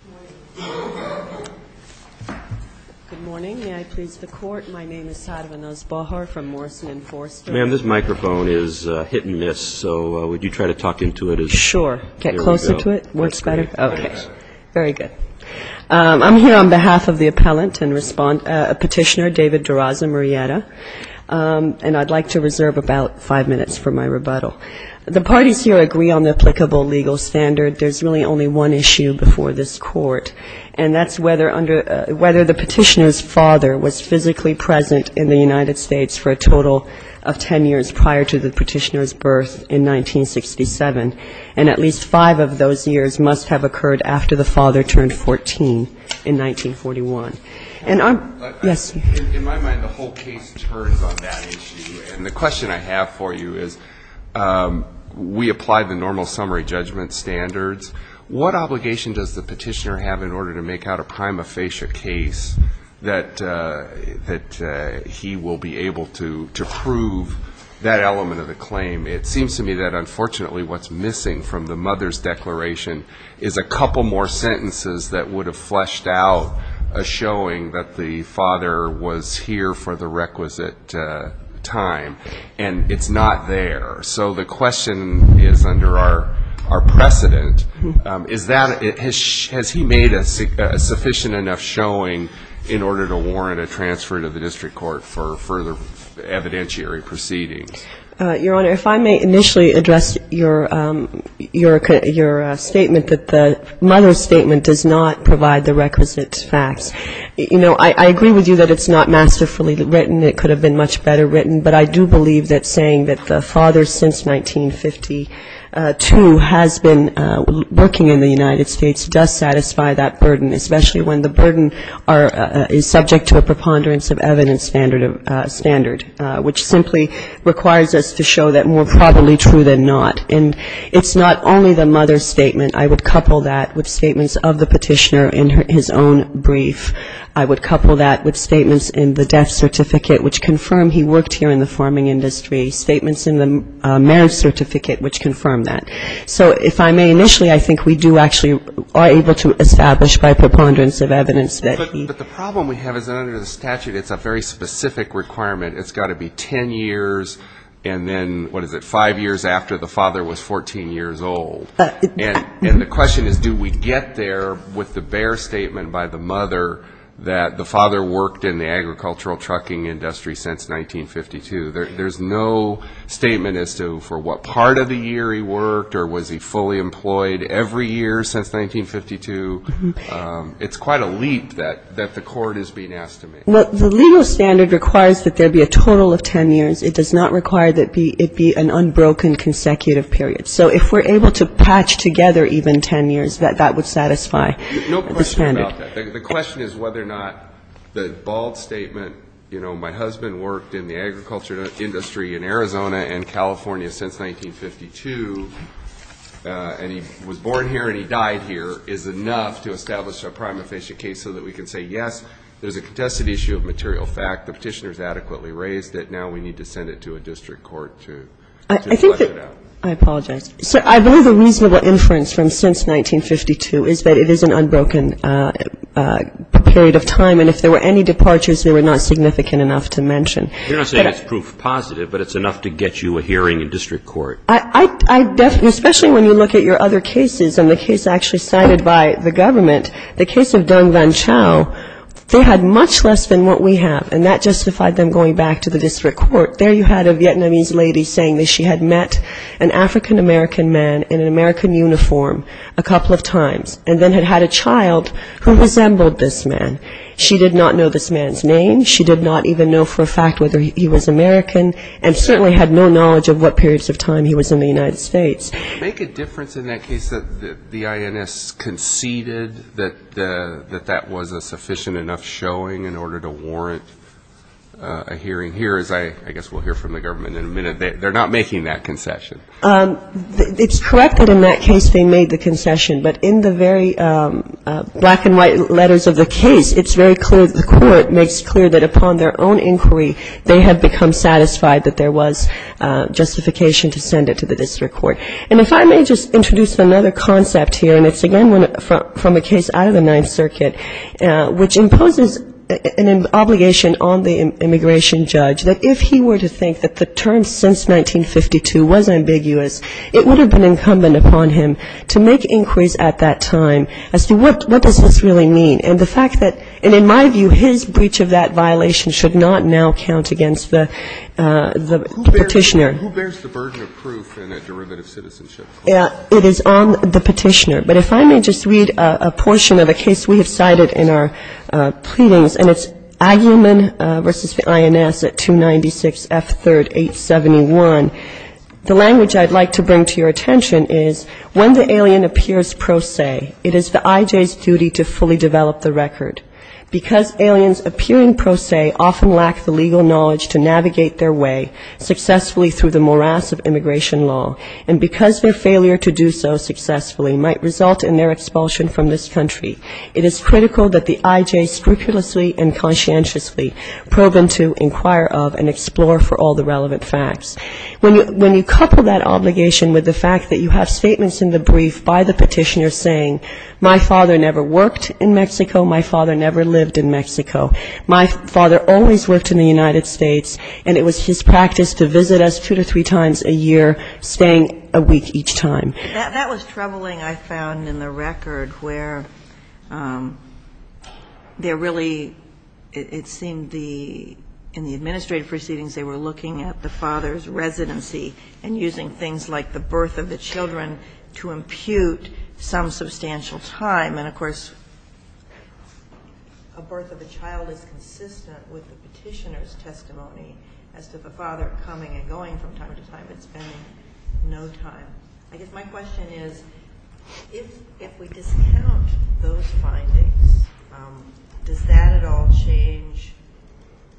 I'm here on behalf of the appellant and petitioner, David Durazo-Murrieta, and I'd like to reserve about five minutes for my rebuttal. The parties here agree on the applicable legal standard. There's really only one issue before this Court, and that's whether the petitioner's father was physically present in the United States for a total of 10 years prior to the petitioner's birth in 1967, and at least five of those years must have occurred after the father turned 14 in 1941. And I'm, yes. In my mind, the whole case turns on that issue, and the question I have for you is, we applied the normal summary judgment standards. What obligation does the petitioner have in order to make out a prima facie case that he will be able to prove that element of the claim? It seems to me that unfortunately what's missing from the mother's declaration is a couple more sentences that would have fleshed out a showing that the father was here for the requisite time, and it's not there. So the question is under our precedent, is that, has he made a sufficient enough showing in order to warrant a transfer to the district court for further evidentiary proceedings? Your Honor, if I may initially address your statement that the mother's statement does not provide the requisite facts. You know, I agree with you that it's not masterfully written. It could have been much better written. But I do believe that saying that the father since 1952 has been working in the United States does satisfy that burden, especially when the burden is subject to a preponderance of evidence standard, which simply requires us to show that more probably true than not. And it's not only the mother's statement. I would couple that with statements of the petitioner in his own brief. I would couple that with statements in the death certificate, which confirm he worked here in the farming industry, statements in the marriage certificate, which confirm that. So if I may initially, I think we do actually are able to establish by preponderance of evidence that he. The problem we have is under the statute, it's a very specific requirement. It's got to be ten years and then, what is it, five years after the father was 14 years old. And the question is, do we get there with the bare statement by the mother that the father worked in the agricultural trucking industry since 1952? There's no statement as to for what part of the year he worked or was he fully employed every year since 1952. It's quite a leap that the court is being asked to make. Well, the legal standard requires that there be a total of ten years. It does not require that it be an unbroken consecutive period. So if we're able to patch together even ten years, that would satisfy the standard. No question about that. The question is whether or not the bald statement, you know, my husband worked in the agriculture industry in Arizona and California since 1952, and he was born here and he died here is enough to establish a prime efficient case so that we can say, yes, there's a contested issue of material fact. The Petitioner's adequately raised it. Now we need to send it to a district court to flush it out. I apologize. I believe a reasonable inference from since 1952 is that it is an unbroken period of time, and if there were any departures, they were not significant enough to mention. You're not saying it's proof positive, but it's enough to get you a hearing in district court. I definitely, especially when you look at your other cases, and the case actually cited by the government, the case of Dung Van Chau, they had much less than what we have, and that justified them going back to the district court. There you had a Vietnamese lady saying that she had met an African American man in an American uniform a couple of times and then had had a child who resembled this man. She did not know this man's name. She did not even know for a fact whether he was American and certainly had no knowledge of what periods of time he was in the United States. Make a difference in that case that the INS conceded that that was a sufficient enough showing in order to warrant a hearing. Here, as I guess we'll hear from the government in a minute, they're not making that concession. It's correct that in that case they made the concession, but in the very black and white letters of the case it's very clear that the court makes clear that upon their own inquiry they have become satisfied that there was justification to send it to the district court. And if I may just introduce another concept here, and it's again from a case out of the Ninth Circuit, which imposes an obligation on the immigration judge that if he were to think that the term since 1952 was ambiguous, it would have been incumbent upon him to make inquiries at that time as to what does this really mean. And the fact that, and in my view, his breach of that violation should not now count against the Petitioner. Who bears the burden of proof in a derivative citizenship? It is on the Petitioner. But if I may just read a portion of a case we have cited in our pleadings, and it's Agyeman v. INS at 296 F. 3rd, 871. The language I'd like to bring to your attention is, when the alien appears pro se, it is the I.J.'s duty to fully develop the record. Because aliens appearing pro se often lack the legal knowledge to navigate their way successfully through the morass of immigration law, and because their failure to do so successfully might result in their expulsion from this country, it is critical that the I.J. scrupulously and conscientiously probe them to inquire of and explore for all the relevant facts. When you couple that obligation with the fact that you have statements in the brief by the Petitioner saying, my father never worked in Mexico, my father never lived in Mexico, my father always worked in the United States, and it was his practice to visit us two to three times a year, staying a week each time. That was troubling, I found, in the record, where they're really, it seemed, in the administrative proceedings they were looking at the father's residency and using things like the birth of the children to impute some substantial time. And, of course, a birth of a child is consistent with the Petitioner's testimony as to the father coming and going from time to time and spending no time. I guess my question is, if we discount those findings, does that at all change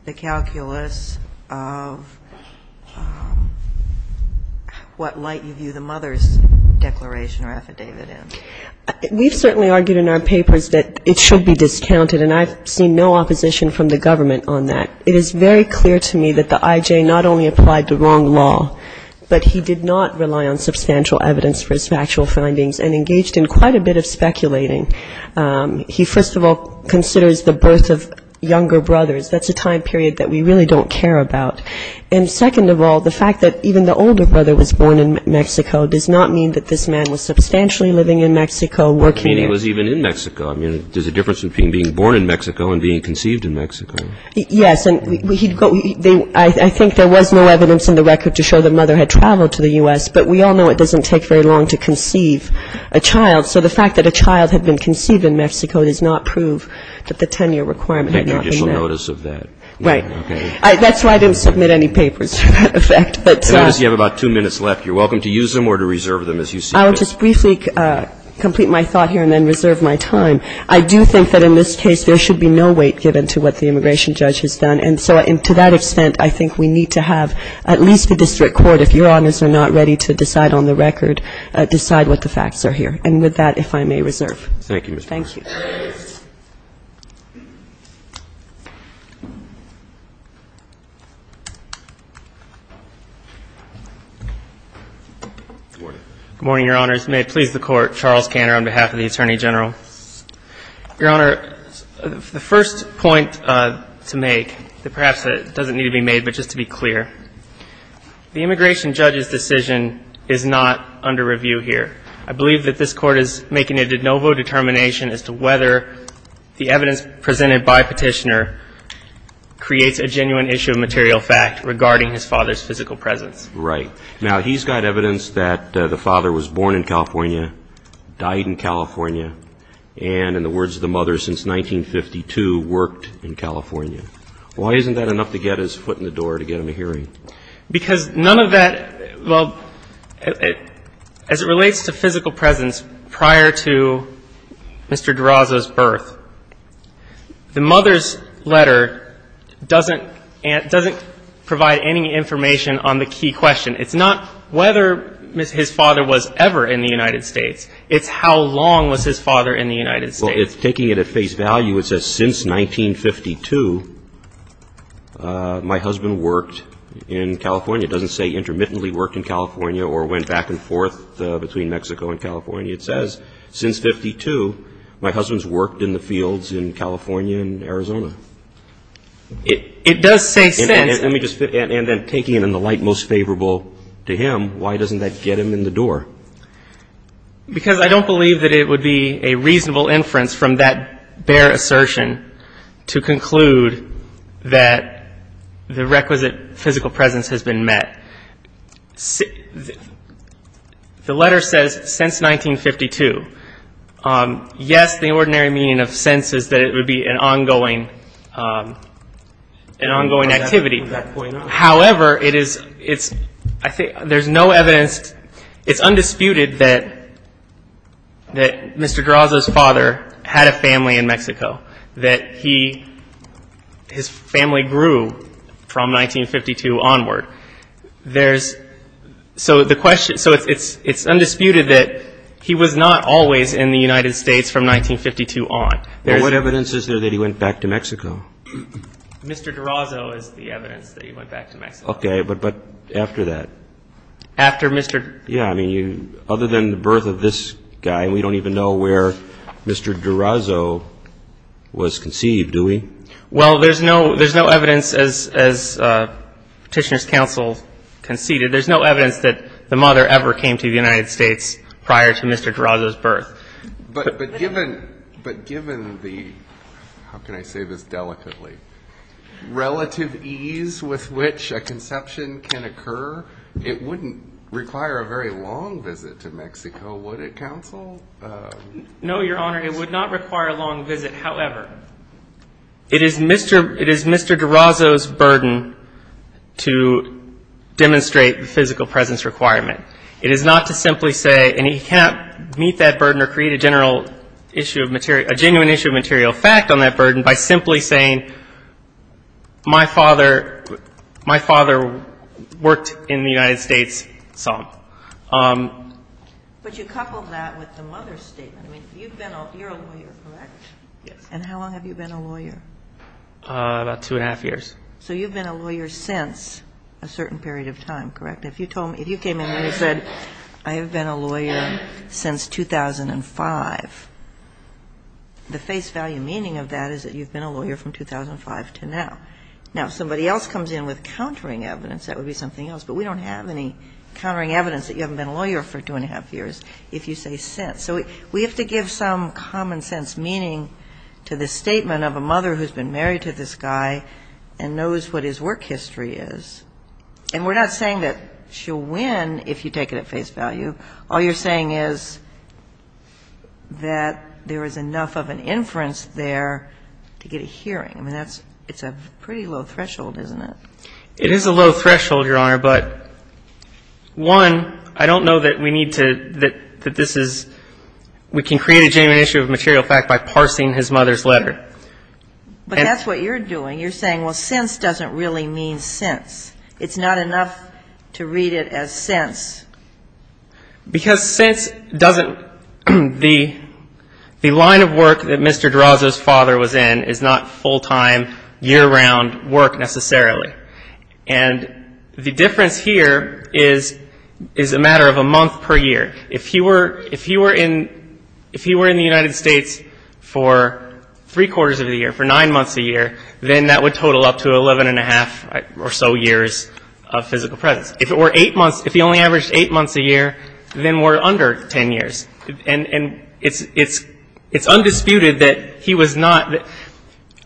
the calculus of what light you view the mother's declaration or affidavit in? We've certainly argued in our papers that it should be discounted, and I've seen no opposition from the government on that. It is very clear to me that the I.J. not only applied the wrong law, but he did not rely on substantial evidence for his factual findings and engaged in quite a bit of speculating. He, first of all, considers the birth of younger brothers. That's a time period that we really don't care about. And, second of all, the fact that even the older brother was born in Mexico does not mean that this man was substantially living in Mexico. You mean he was even in Mexico? I mean, there's a difference between being born in Mexico and being conceived in Mexico. Yes, and I think there was no evidence in the record to show the mother had traveled to the U.S., but we all know it doesn't take very long to conceive a child. So the fact that a child had been conceived in Mexico does not prove that the 10-year requirement had not been there. And no judicial notice of that? Right. That's why I didn't submit any papers to that effect. And obviously you have about two minutes left. You're welcome to use them or to reserve them as you see fit. I will just briefly complete my thought here and then reserve my time. I do think that in this case there should be no weight given to what the immigration judge has done. And so to that extent, I think we need to have at least the district court, if Your Honors are not ready to decide on the record, decide what the facts are here. And with that, if I may reserve. Thank you, Mr. Chief. Thank you. Good morning. Good morning, Your Honors. May it please the Court, Charles Kanner on behalf of the Attorney General. Your Honor, the first point to make that perhaps doesn't need to be made, but just to be clear, the immigration judge's decision is not under review here. I believe that this Court is making a de novo determination as to whether the evidence presented by Petitioner creates a genuine issue of material fact regarding his father's physical presence. Right. Now, he's got evidence that the father was born in California, died in California, and in the words of the mother, since 1952, worked in California. Why isn't that enough to get his foot in the door to get him a hearing? Because none of that, well, as it relates to physical presence prior to Mr. DeRoza's birth, the mother's letter doesn't provide any information on the key question. It's not whether his father was ever in the United States. It's how long was his father in the United States. Well, it's taking it at face value. It says since 1952, my husband worked in California. It doesn't say intermittently worked in California or went back and forth between Mexico and California. It says since 1952, my husband's worked in the fields in California and Arizona. It does say since. And then taking it in the light most favorable to him, why doesn't that get him in the door? Because I don't believe that it would be a reasonable inference from that bare assertion to conclude that the requisite physical presence has been met. The letter says since 1952. Yes, the ordinary meaning of since is that it would be an ongoing activity. However, it is, I think there's no evidence, it's undisputed that Mr. DeRoza's father had a family in Mexico, that he, his family grew from 1952 onward. There's, so the question, so it's undisputed that he was not always in the United States from 1952 on. What evidence is there that he went back to Mexico? Mr. DeRoza is the evidence that he went back to Mexico. Okay, but after that? After Mr. Yeah, I mean, other than the birth of this guy, we don't even know where Mr. DeRoza was conceived, do we? Well, there's no evidence as Petitioner's counsel conceded. There's no evidence that the mother ever came to the United States prior to Mr. DeRoza's birth. But given the, how can I say this delicately, relative ease with which a conception can occur, it wouldn't require a very long visit to Mexico, would it, counsel? No, Your Honor, it would not require a long visit. However, it is Mr. DeRoza's burden to demonstrate the physical presence requirement. It is not to simply say, and he can't meet that burden or create a general issue of material, a genuine issue of material fact on that burden by simply saying, my father worked in the United States some. But you couple that with the mother's statement. I mean, you've been a, you're a lawyer, correct? Yes. And how long have you been a lawyer? About two and a half years. So you've been a lawyer since a certain period of time, correct? If you told me, if you came in and you said, I have been a lawyer since 2005, the face value meaning of that is that you've been a lawyer from 2005 to now. Now, if somebody else comes in with countering evidence, that would be something else. But we don't have any countering evidence that you haven't been a lawyer for two and a half years if you say since. So we have to give some common sense meaning to the statement of a mother who's been married to this guy and knows what his work history is. And we're not saying that she'll win if you take it at face value. All you're saying is that there is enough of an inference there to get a hearing. I mean, that's, it's a pretty low threshold, isn't it? It is a low threshold, Your Honor, but, one, I don't know that we need to, that this is, we can create a genuine issue of material fact by parsing his mother's letter. But that's what you're doing. You're saying, well, since doesn't really mean since. It's not enough to read it as since. Because since doesn't, the line of work that Mr. DeRozo's father was in is not full-time year-round work necessarily. And the difference here is a matter of a month per year. If he were in the United States for three-quarters of the year, for nine months a year, then that would total up to 11 and a half or so years of physical presence. If it were eight months, if he only averaged eight months a year, then we're under 10 years. And it's undisputed that he was not,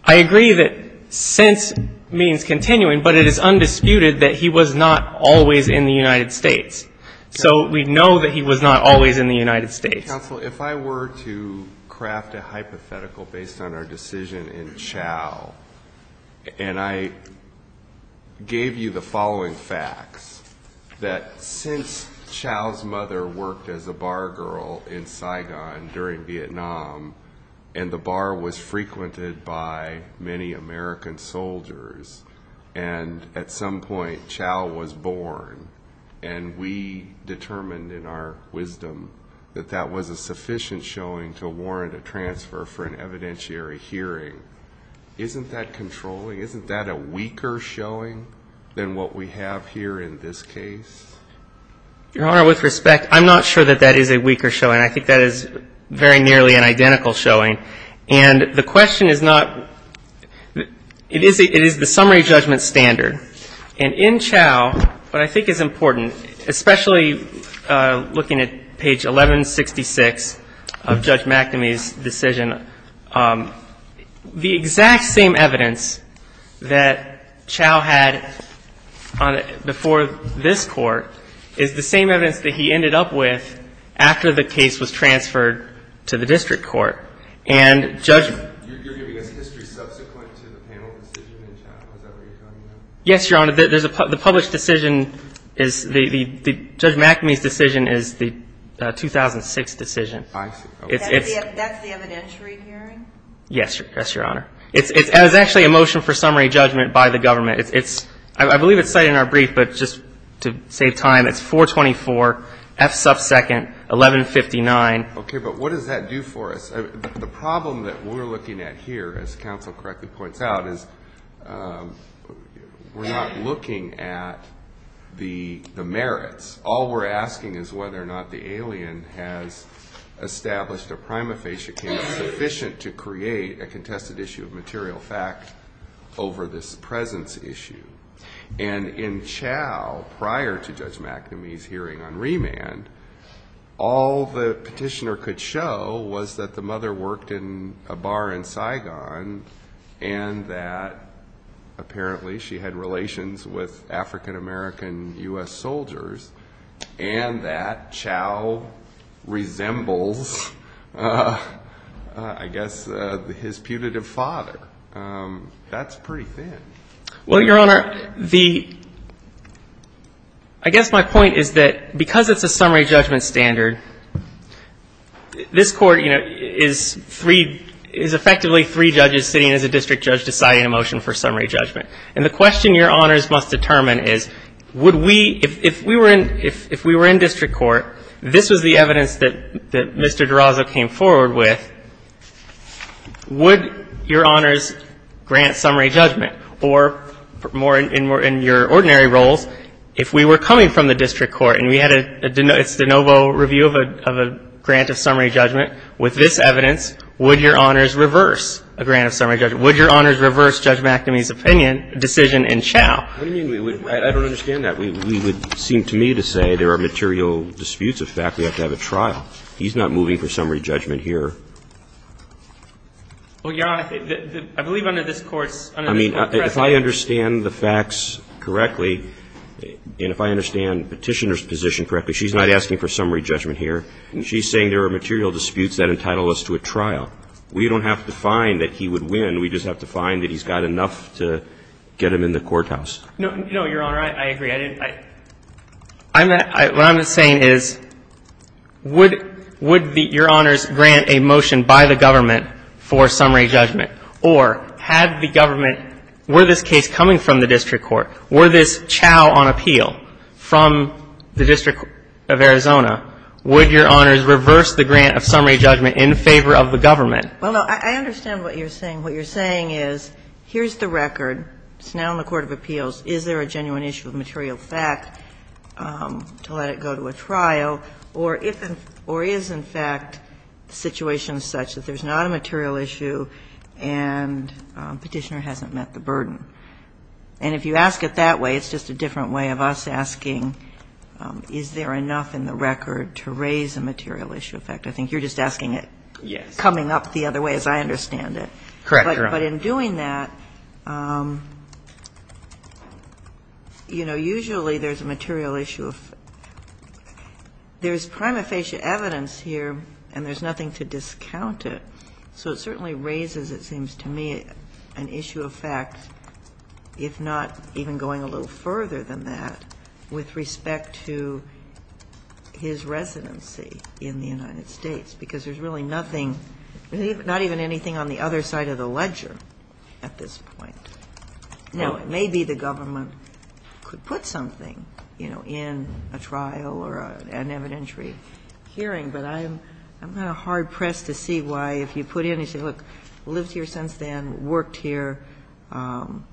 I agree that since means continuing, but it is undisputed that he was not always in the United States. So we know that he was not always in the United States. Counsel, if I were to craft a hypothetical based on our decision in Chau, and I gave you the following facts, that since Chau's mother worked as a bar girl in Saigon during Vietnam and the bar was frequented by many American soldiers, and at some point Chau was born, and we determined in our wisdom that that was a sufficient showing to warrant a transfer for an evidentiary hearing, isn't that controlling? Isn't that a weaker showing than what we have here in this case? Your Honor, with respect, I'm not sure that that is a weaker showing. I think that is very nearly an identical showing. And the question is not, it is the summary judgment standard. And in Chau, what I think is important, especially looking at page 1166 of Judge McNamee's decision, the exact same evidence that Chau had before this Court is the same evidence that he ended up with after the case was transferred to the District Court. And Judge — You're giving us history subsequent to the panel decision in Chau, is that what you're telling me? Yes, Your Honor. The published decision is — Judge McNamee's decision is the 2006 decision. I see. That's the evidentiary hearing? Yes, Your Honor. It's actually a motion for summary judgment by the government. I believe it's cited in our brief, but just to save time, it's 424, F sub second, 1159. Okay. But what does that do for us? The problem that we're looking at here, as counsel correctly points out, is we're not looking at the merits. All we're asking is whether or not the alien has established a prima facie case sufficient to create a contested issue of material fact over this presence issue. And in Chau, prior to Judge McNamee's hearing on remand, all the petitioner could show was that the mother worked in a bar in Saigon and that apparently she had relations with African-American U.S. soldiers and that Chau resembles, I guess, his putative father. That's pretty thin. Well, Your Honor, the ‑‑ I guess my point is that because it's a summary judgment standard, this Court, you know, is effectively three judges sitting as a district judge deciding a motion for summary judgment. And the question Your Honors must determine is would we ‑‑ if we were in district court, this was the evidence that Mr. McNamee presented, would Your Honors grant summary judgment or more in your ordinary roles, if we were coming from the district court and we had a de novo review of a grant of summary judgment with this evidence, would Your Honors reverse a grant of summary judgment? Would Your Honors reverse Judge McNamee's opinion, decision in Chau? What do you mean? I don't understand that. We would seem to me to say there are material disputes of fact. We have to have a trial. He's not moving for summary judgment here. Well, Your Honor, I believe under this Court's ‑‑ I mean, if I understand the facts correctly, and if I understand Petitioner's position correctly, she's not asking for summary judgment here. She's saying there are material disputes that entitle us to a trial. We don't have to find that he would win. We just have to find that he's got enough to get him in the courthouse. No, Your Honor, I agree. What I'm saying is, would Your Honors grant a motion by the government for summary judgment, or had the government ‑‑ were this case coming from the district court, were this Chau on appeal from the District of Arizona, would Your Honors reverse the grant of summary judgment in favor of the government? Well, no. I understand what you're saying. What you're saying is, here's the record. It's now in the Court of Appeals. Is there a genuine issue of material fact to let it go to a trial? Or is, in fact, the situation such that there's not a material issue and Petitioner hasn't met the burden? And if you ask it that way, it's just a different way of us asking, is there enough in the record to raise a material issue of fact? I think you're just asking it coming up the other way, as I understand it. Correct, Your Honor. But in doing that, you know, usually there's a material issue of fact. There's prima facie evidence here, and there's nothing to discount it. So it certainly raises, it seems to me, an issue of fact, if not even going a little further than that, with respect to his residency in the United States, because there's really nothing, not even anything on the other side of the ledger at this point. Now, maybe the government could put something, you know, in a trial or an evidentiary hearing, but I'm kind of hard-pressed to see why, if you put in and say, look, lived here since then, worked here,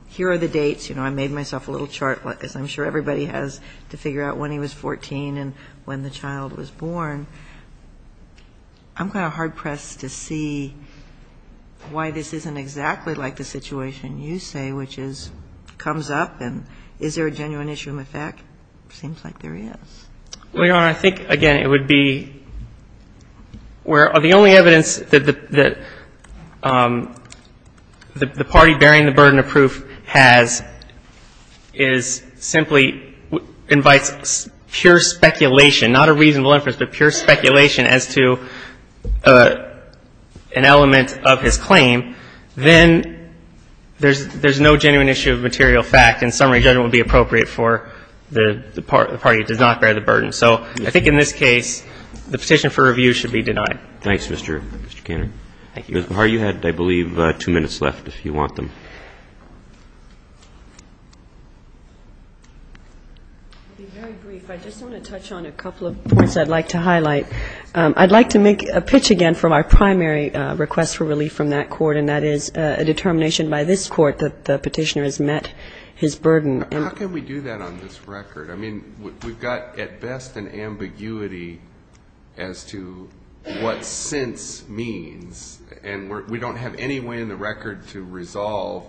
here are the dates, you know, I made myself a little older, as I'm sure everybody has, to figure out when he was 14 and when the child was born, I'm kind of hard-pressed to see why this isn't exactly like the situation you say, which is, comes up, and is there a genuine issue of fact? It seems like there is. Well, Your Honor, I think, again, it would be where the only evidence that the party bearing the burden of proof has is simply invites pure speculation, not a reasonable inference, but pure speculation as to an element of his claim. Then there's no genuine issue of material fact, and summary judgment would be appropriate for the party that does not bear the burden. So I think in this case, the petition for review should be denied. Thank you, Your Honor. Your Honor, you had, I believe, two minutes left, if you want them. I'll be very brief. I just want to touch on a couple of points I'd like to highlight. I'd like to make a pitch again from our primary request for relief from that court, and that is a determination by this court that the petitioner has met his burden. How can we do that on this record? I mean, we've got, at best, an ambiguity as to what since means, and we don't have any way in the record to resolve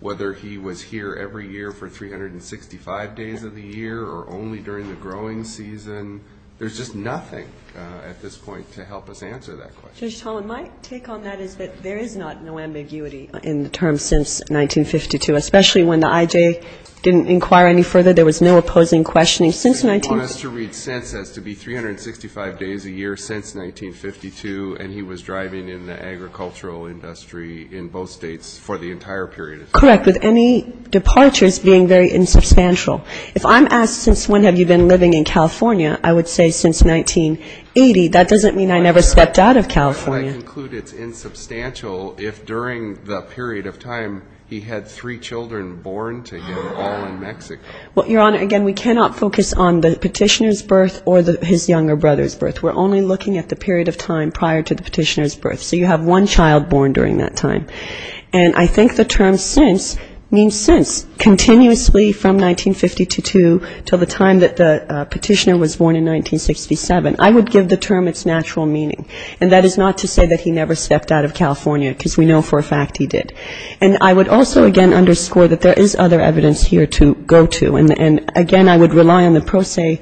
whether he was here every year for 365 days of the year or only during the growing season. There's just nothing at this point to help us answer that question. Judge Tomlin, my take on that is that there is not no ambiguity in the term since 1952, especially when the I.J. didn't inquire any further. There was no opposing questioning since 1952. You want us to read since as to be 365 days a year since 1952, and he was driving in the agricultural industry in both states for the entire period of time? Correct. With any departures being very insubstantial. If I'm asked since when have you been living in California, I would say since 1980. That doesn't mean I never stepped out of California. But I conclude it's insubstantial if during the period of time he had three children born to him all in Mexico. Well, Your Honor, again, we cannot focus on the petitioner's birth or his younger brother's birth. We're only looking at the period of time prior to the petitioner's birth. So you have one child born during that time. And I think the term since means since, continuously from 1952 to the time that the petitioner was born in 1967. I would give the term its natural meaning. And that is not to say that he never stepped out of California, because we know for a fact he did. And I would also, again, underscore that there is other evidence here to go to. And, again, I would rely on the pro se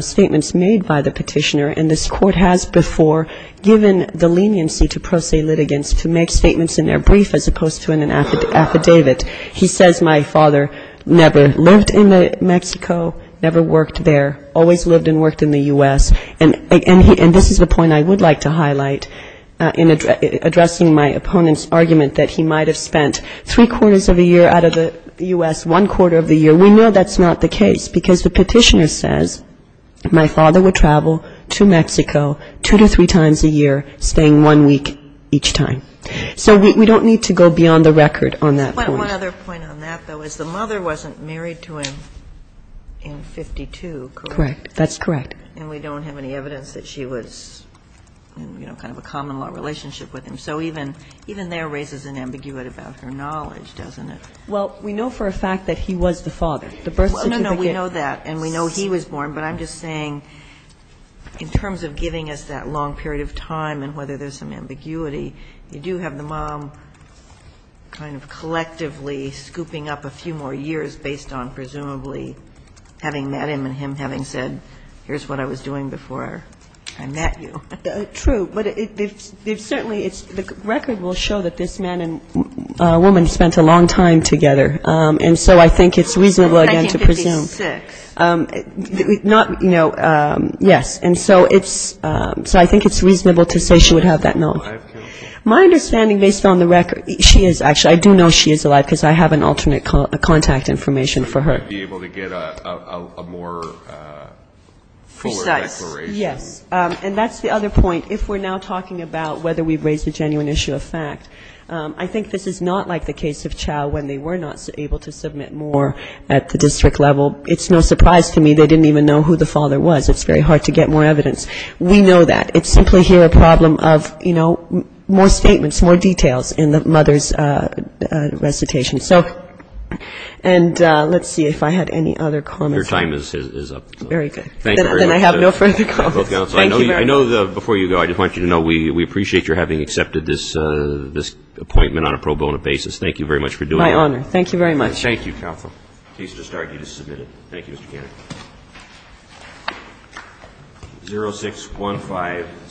statements made by the petitioner. And this Court has before given the leniency to pro se litigants to make statements in their brief as opposed to in an affidavit. He says my father never lived in Mexico, never worked there, always lived and worked in the U.S. And this is the point I would like to highlight in addressing my opponent's argument that he might have spent three-quarters of a year out of the U.S., one-quarter of the year. We know that's not the case, because the petitioner says my father would travel to Mexico two to three times a year, staying one week each time. So we don't need to go beyond the record on that point. One other point on that, though, is the mother wasn't married to him in 1952, correct? Correct. That's correct. And we don't have any evidence that she was in, you know, kind of a common-law relationship with him. So even there raises an ambiguity about her knowledge, doesn't it? Well, we know for a fact that he was the father. The birth certificate. No, no, we know that. And we know he was born. But I'm just saying in terms of giving us that long period of time and whether there's some ambiguity, you do have the mom kind of collectively scooping up a few more years based on presumably having met him and him having said, here's what I was doing before I met you. True. But certainly it's the record will show that this man and woman spent a long time together. And so I think it's reasonable, again, to presume. 1956. Not, you know, yes. And so it's so I think it's reasonable to say she would have that knowledge. My understanding based on the record, she is actually I do know she is alive because I have an alternate contact information for her. To be able to get a more fuller declaration. Yes. And that's the other point. If we're now talking about whether we've raised a genuine issue of fact, I think this is not like the case of Chau when they were not able to submit more at the district level. It's no surprise to me they didn't even know who the father was. It's very hard to get more evidence. We know that. It's simply here a problem of, you know, more statements, more details in the mother's recitation. So and let's see if I had any other comments. Your time is up. Very good. Thank you very much. Then I have no further comments. Thank you very much. I know before you go, I just want you to know we appreciate your having accepted this appointment on a pro bono basis. Thank you very much for doing that. My honor. Thank you very much. Thank you, counsel. Case to start. You just submitted it. Thank you, Mr. Cannon. 06157.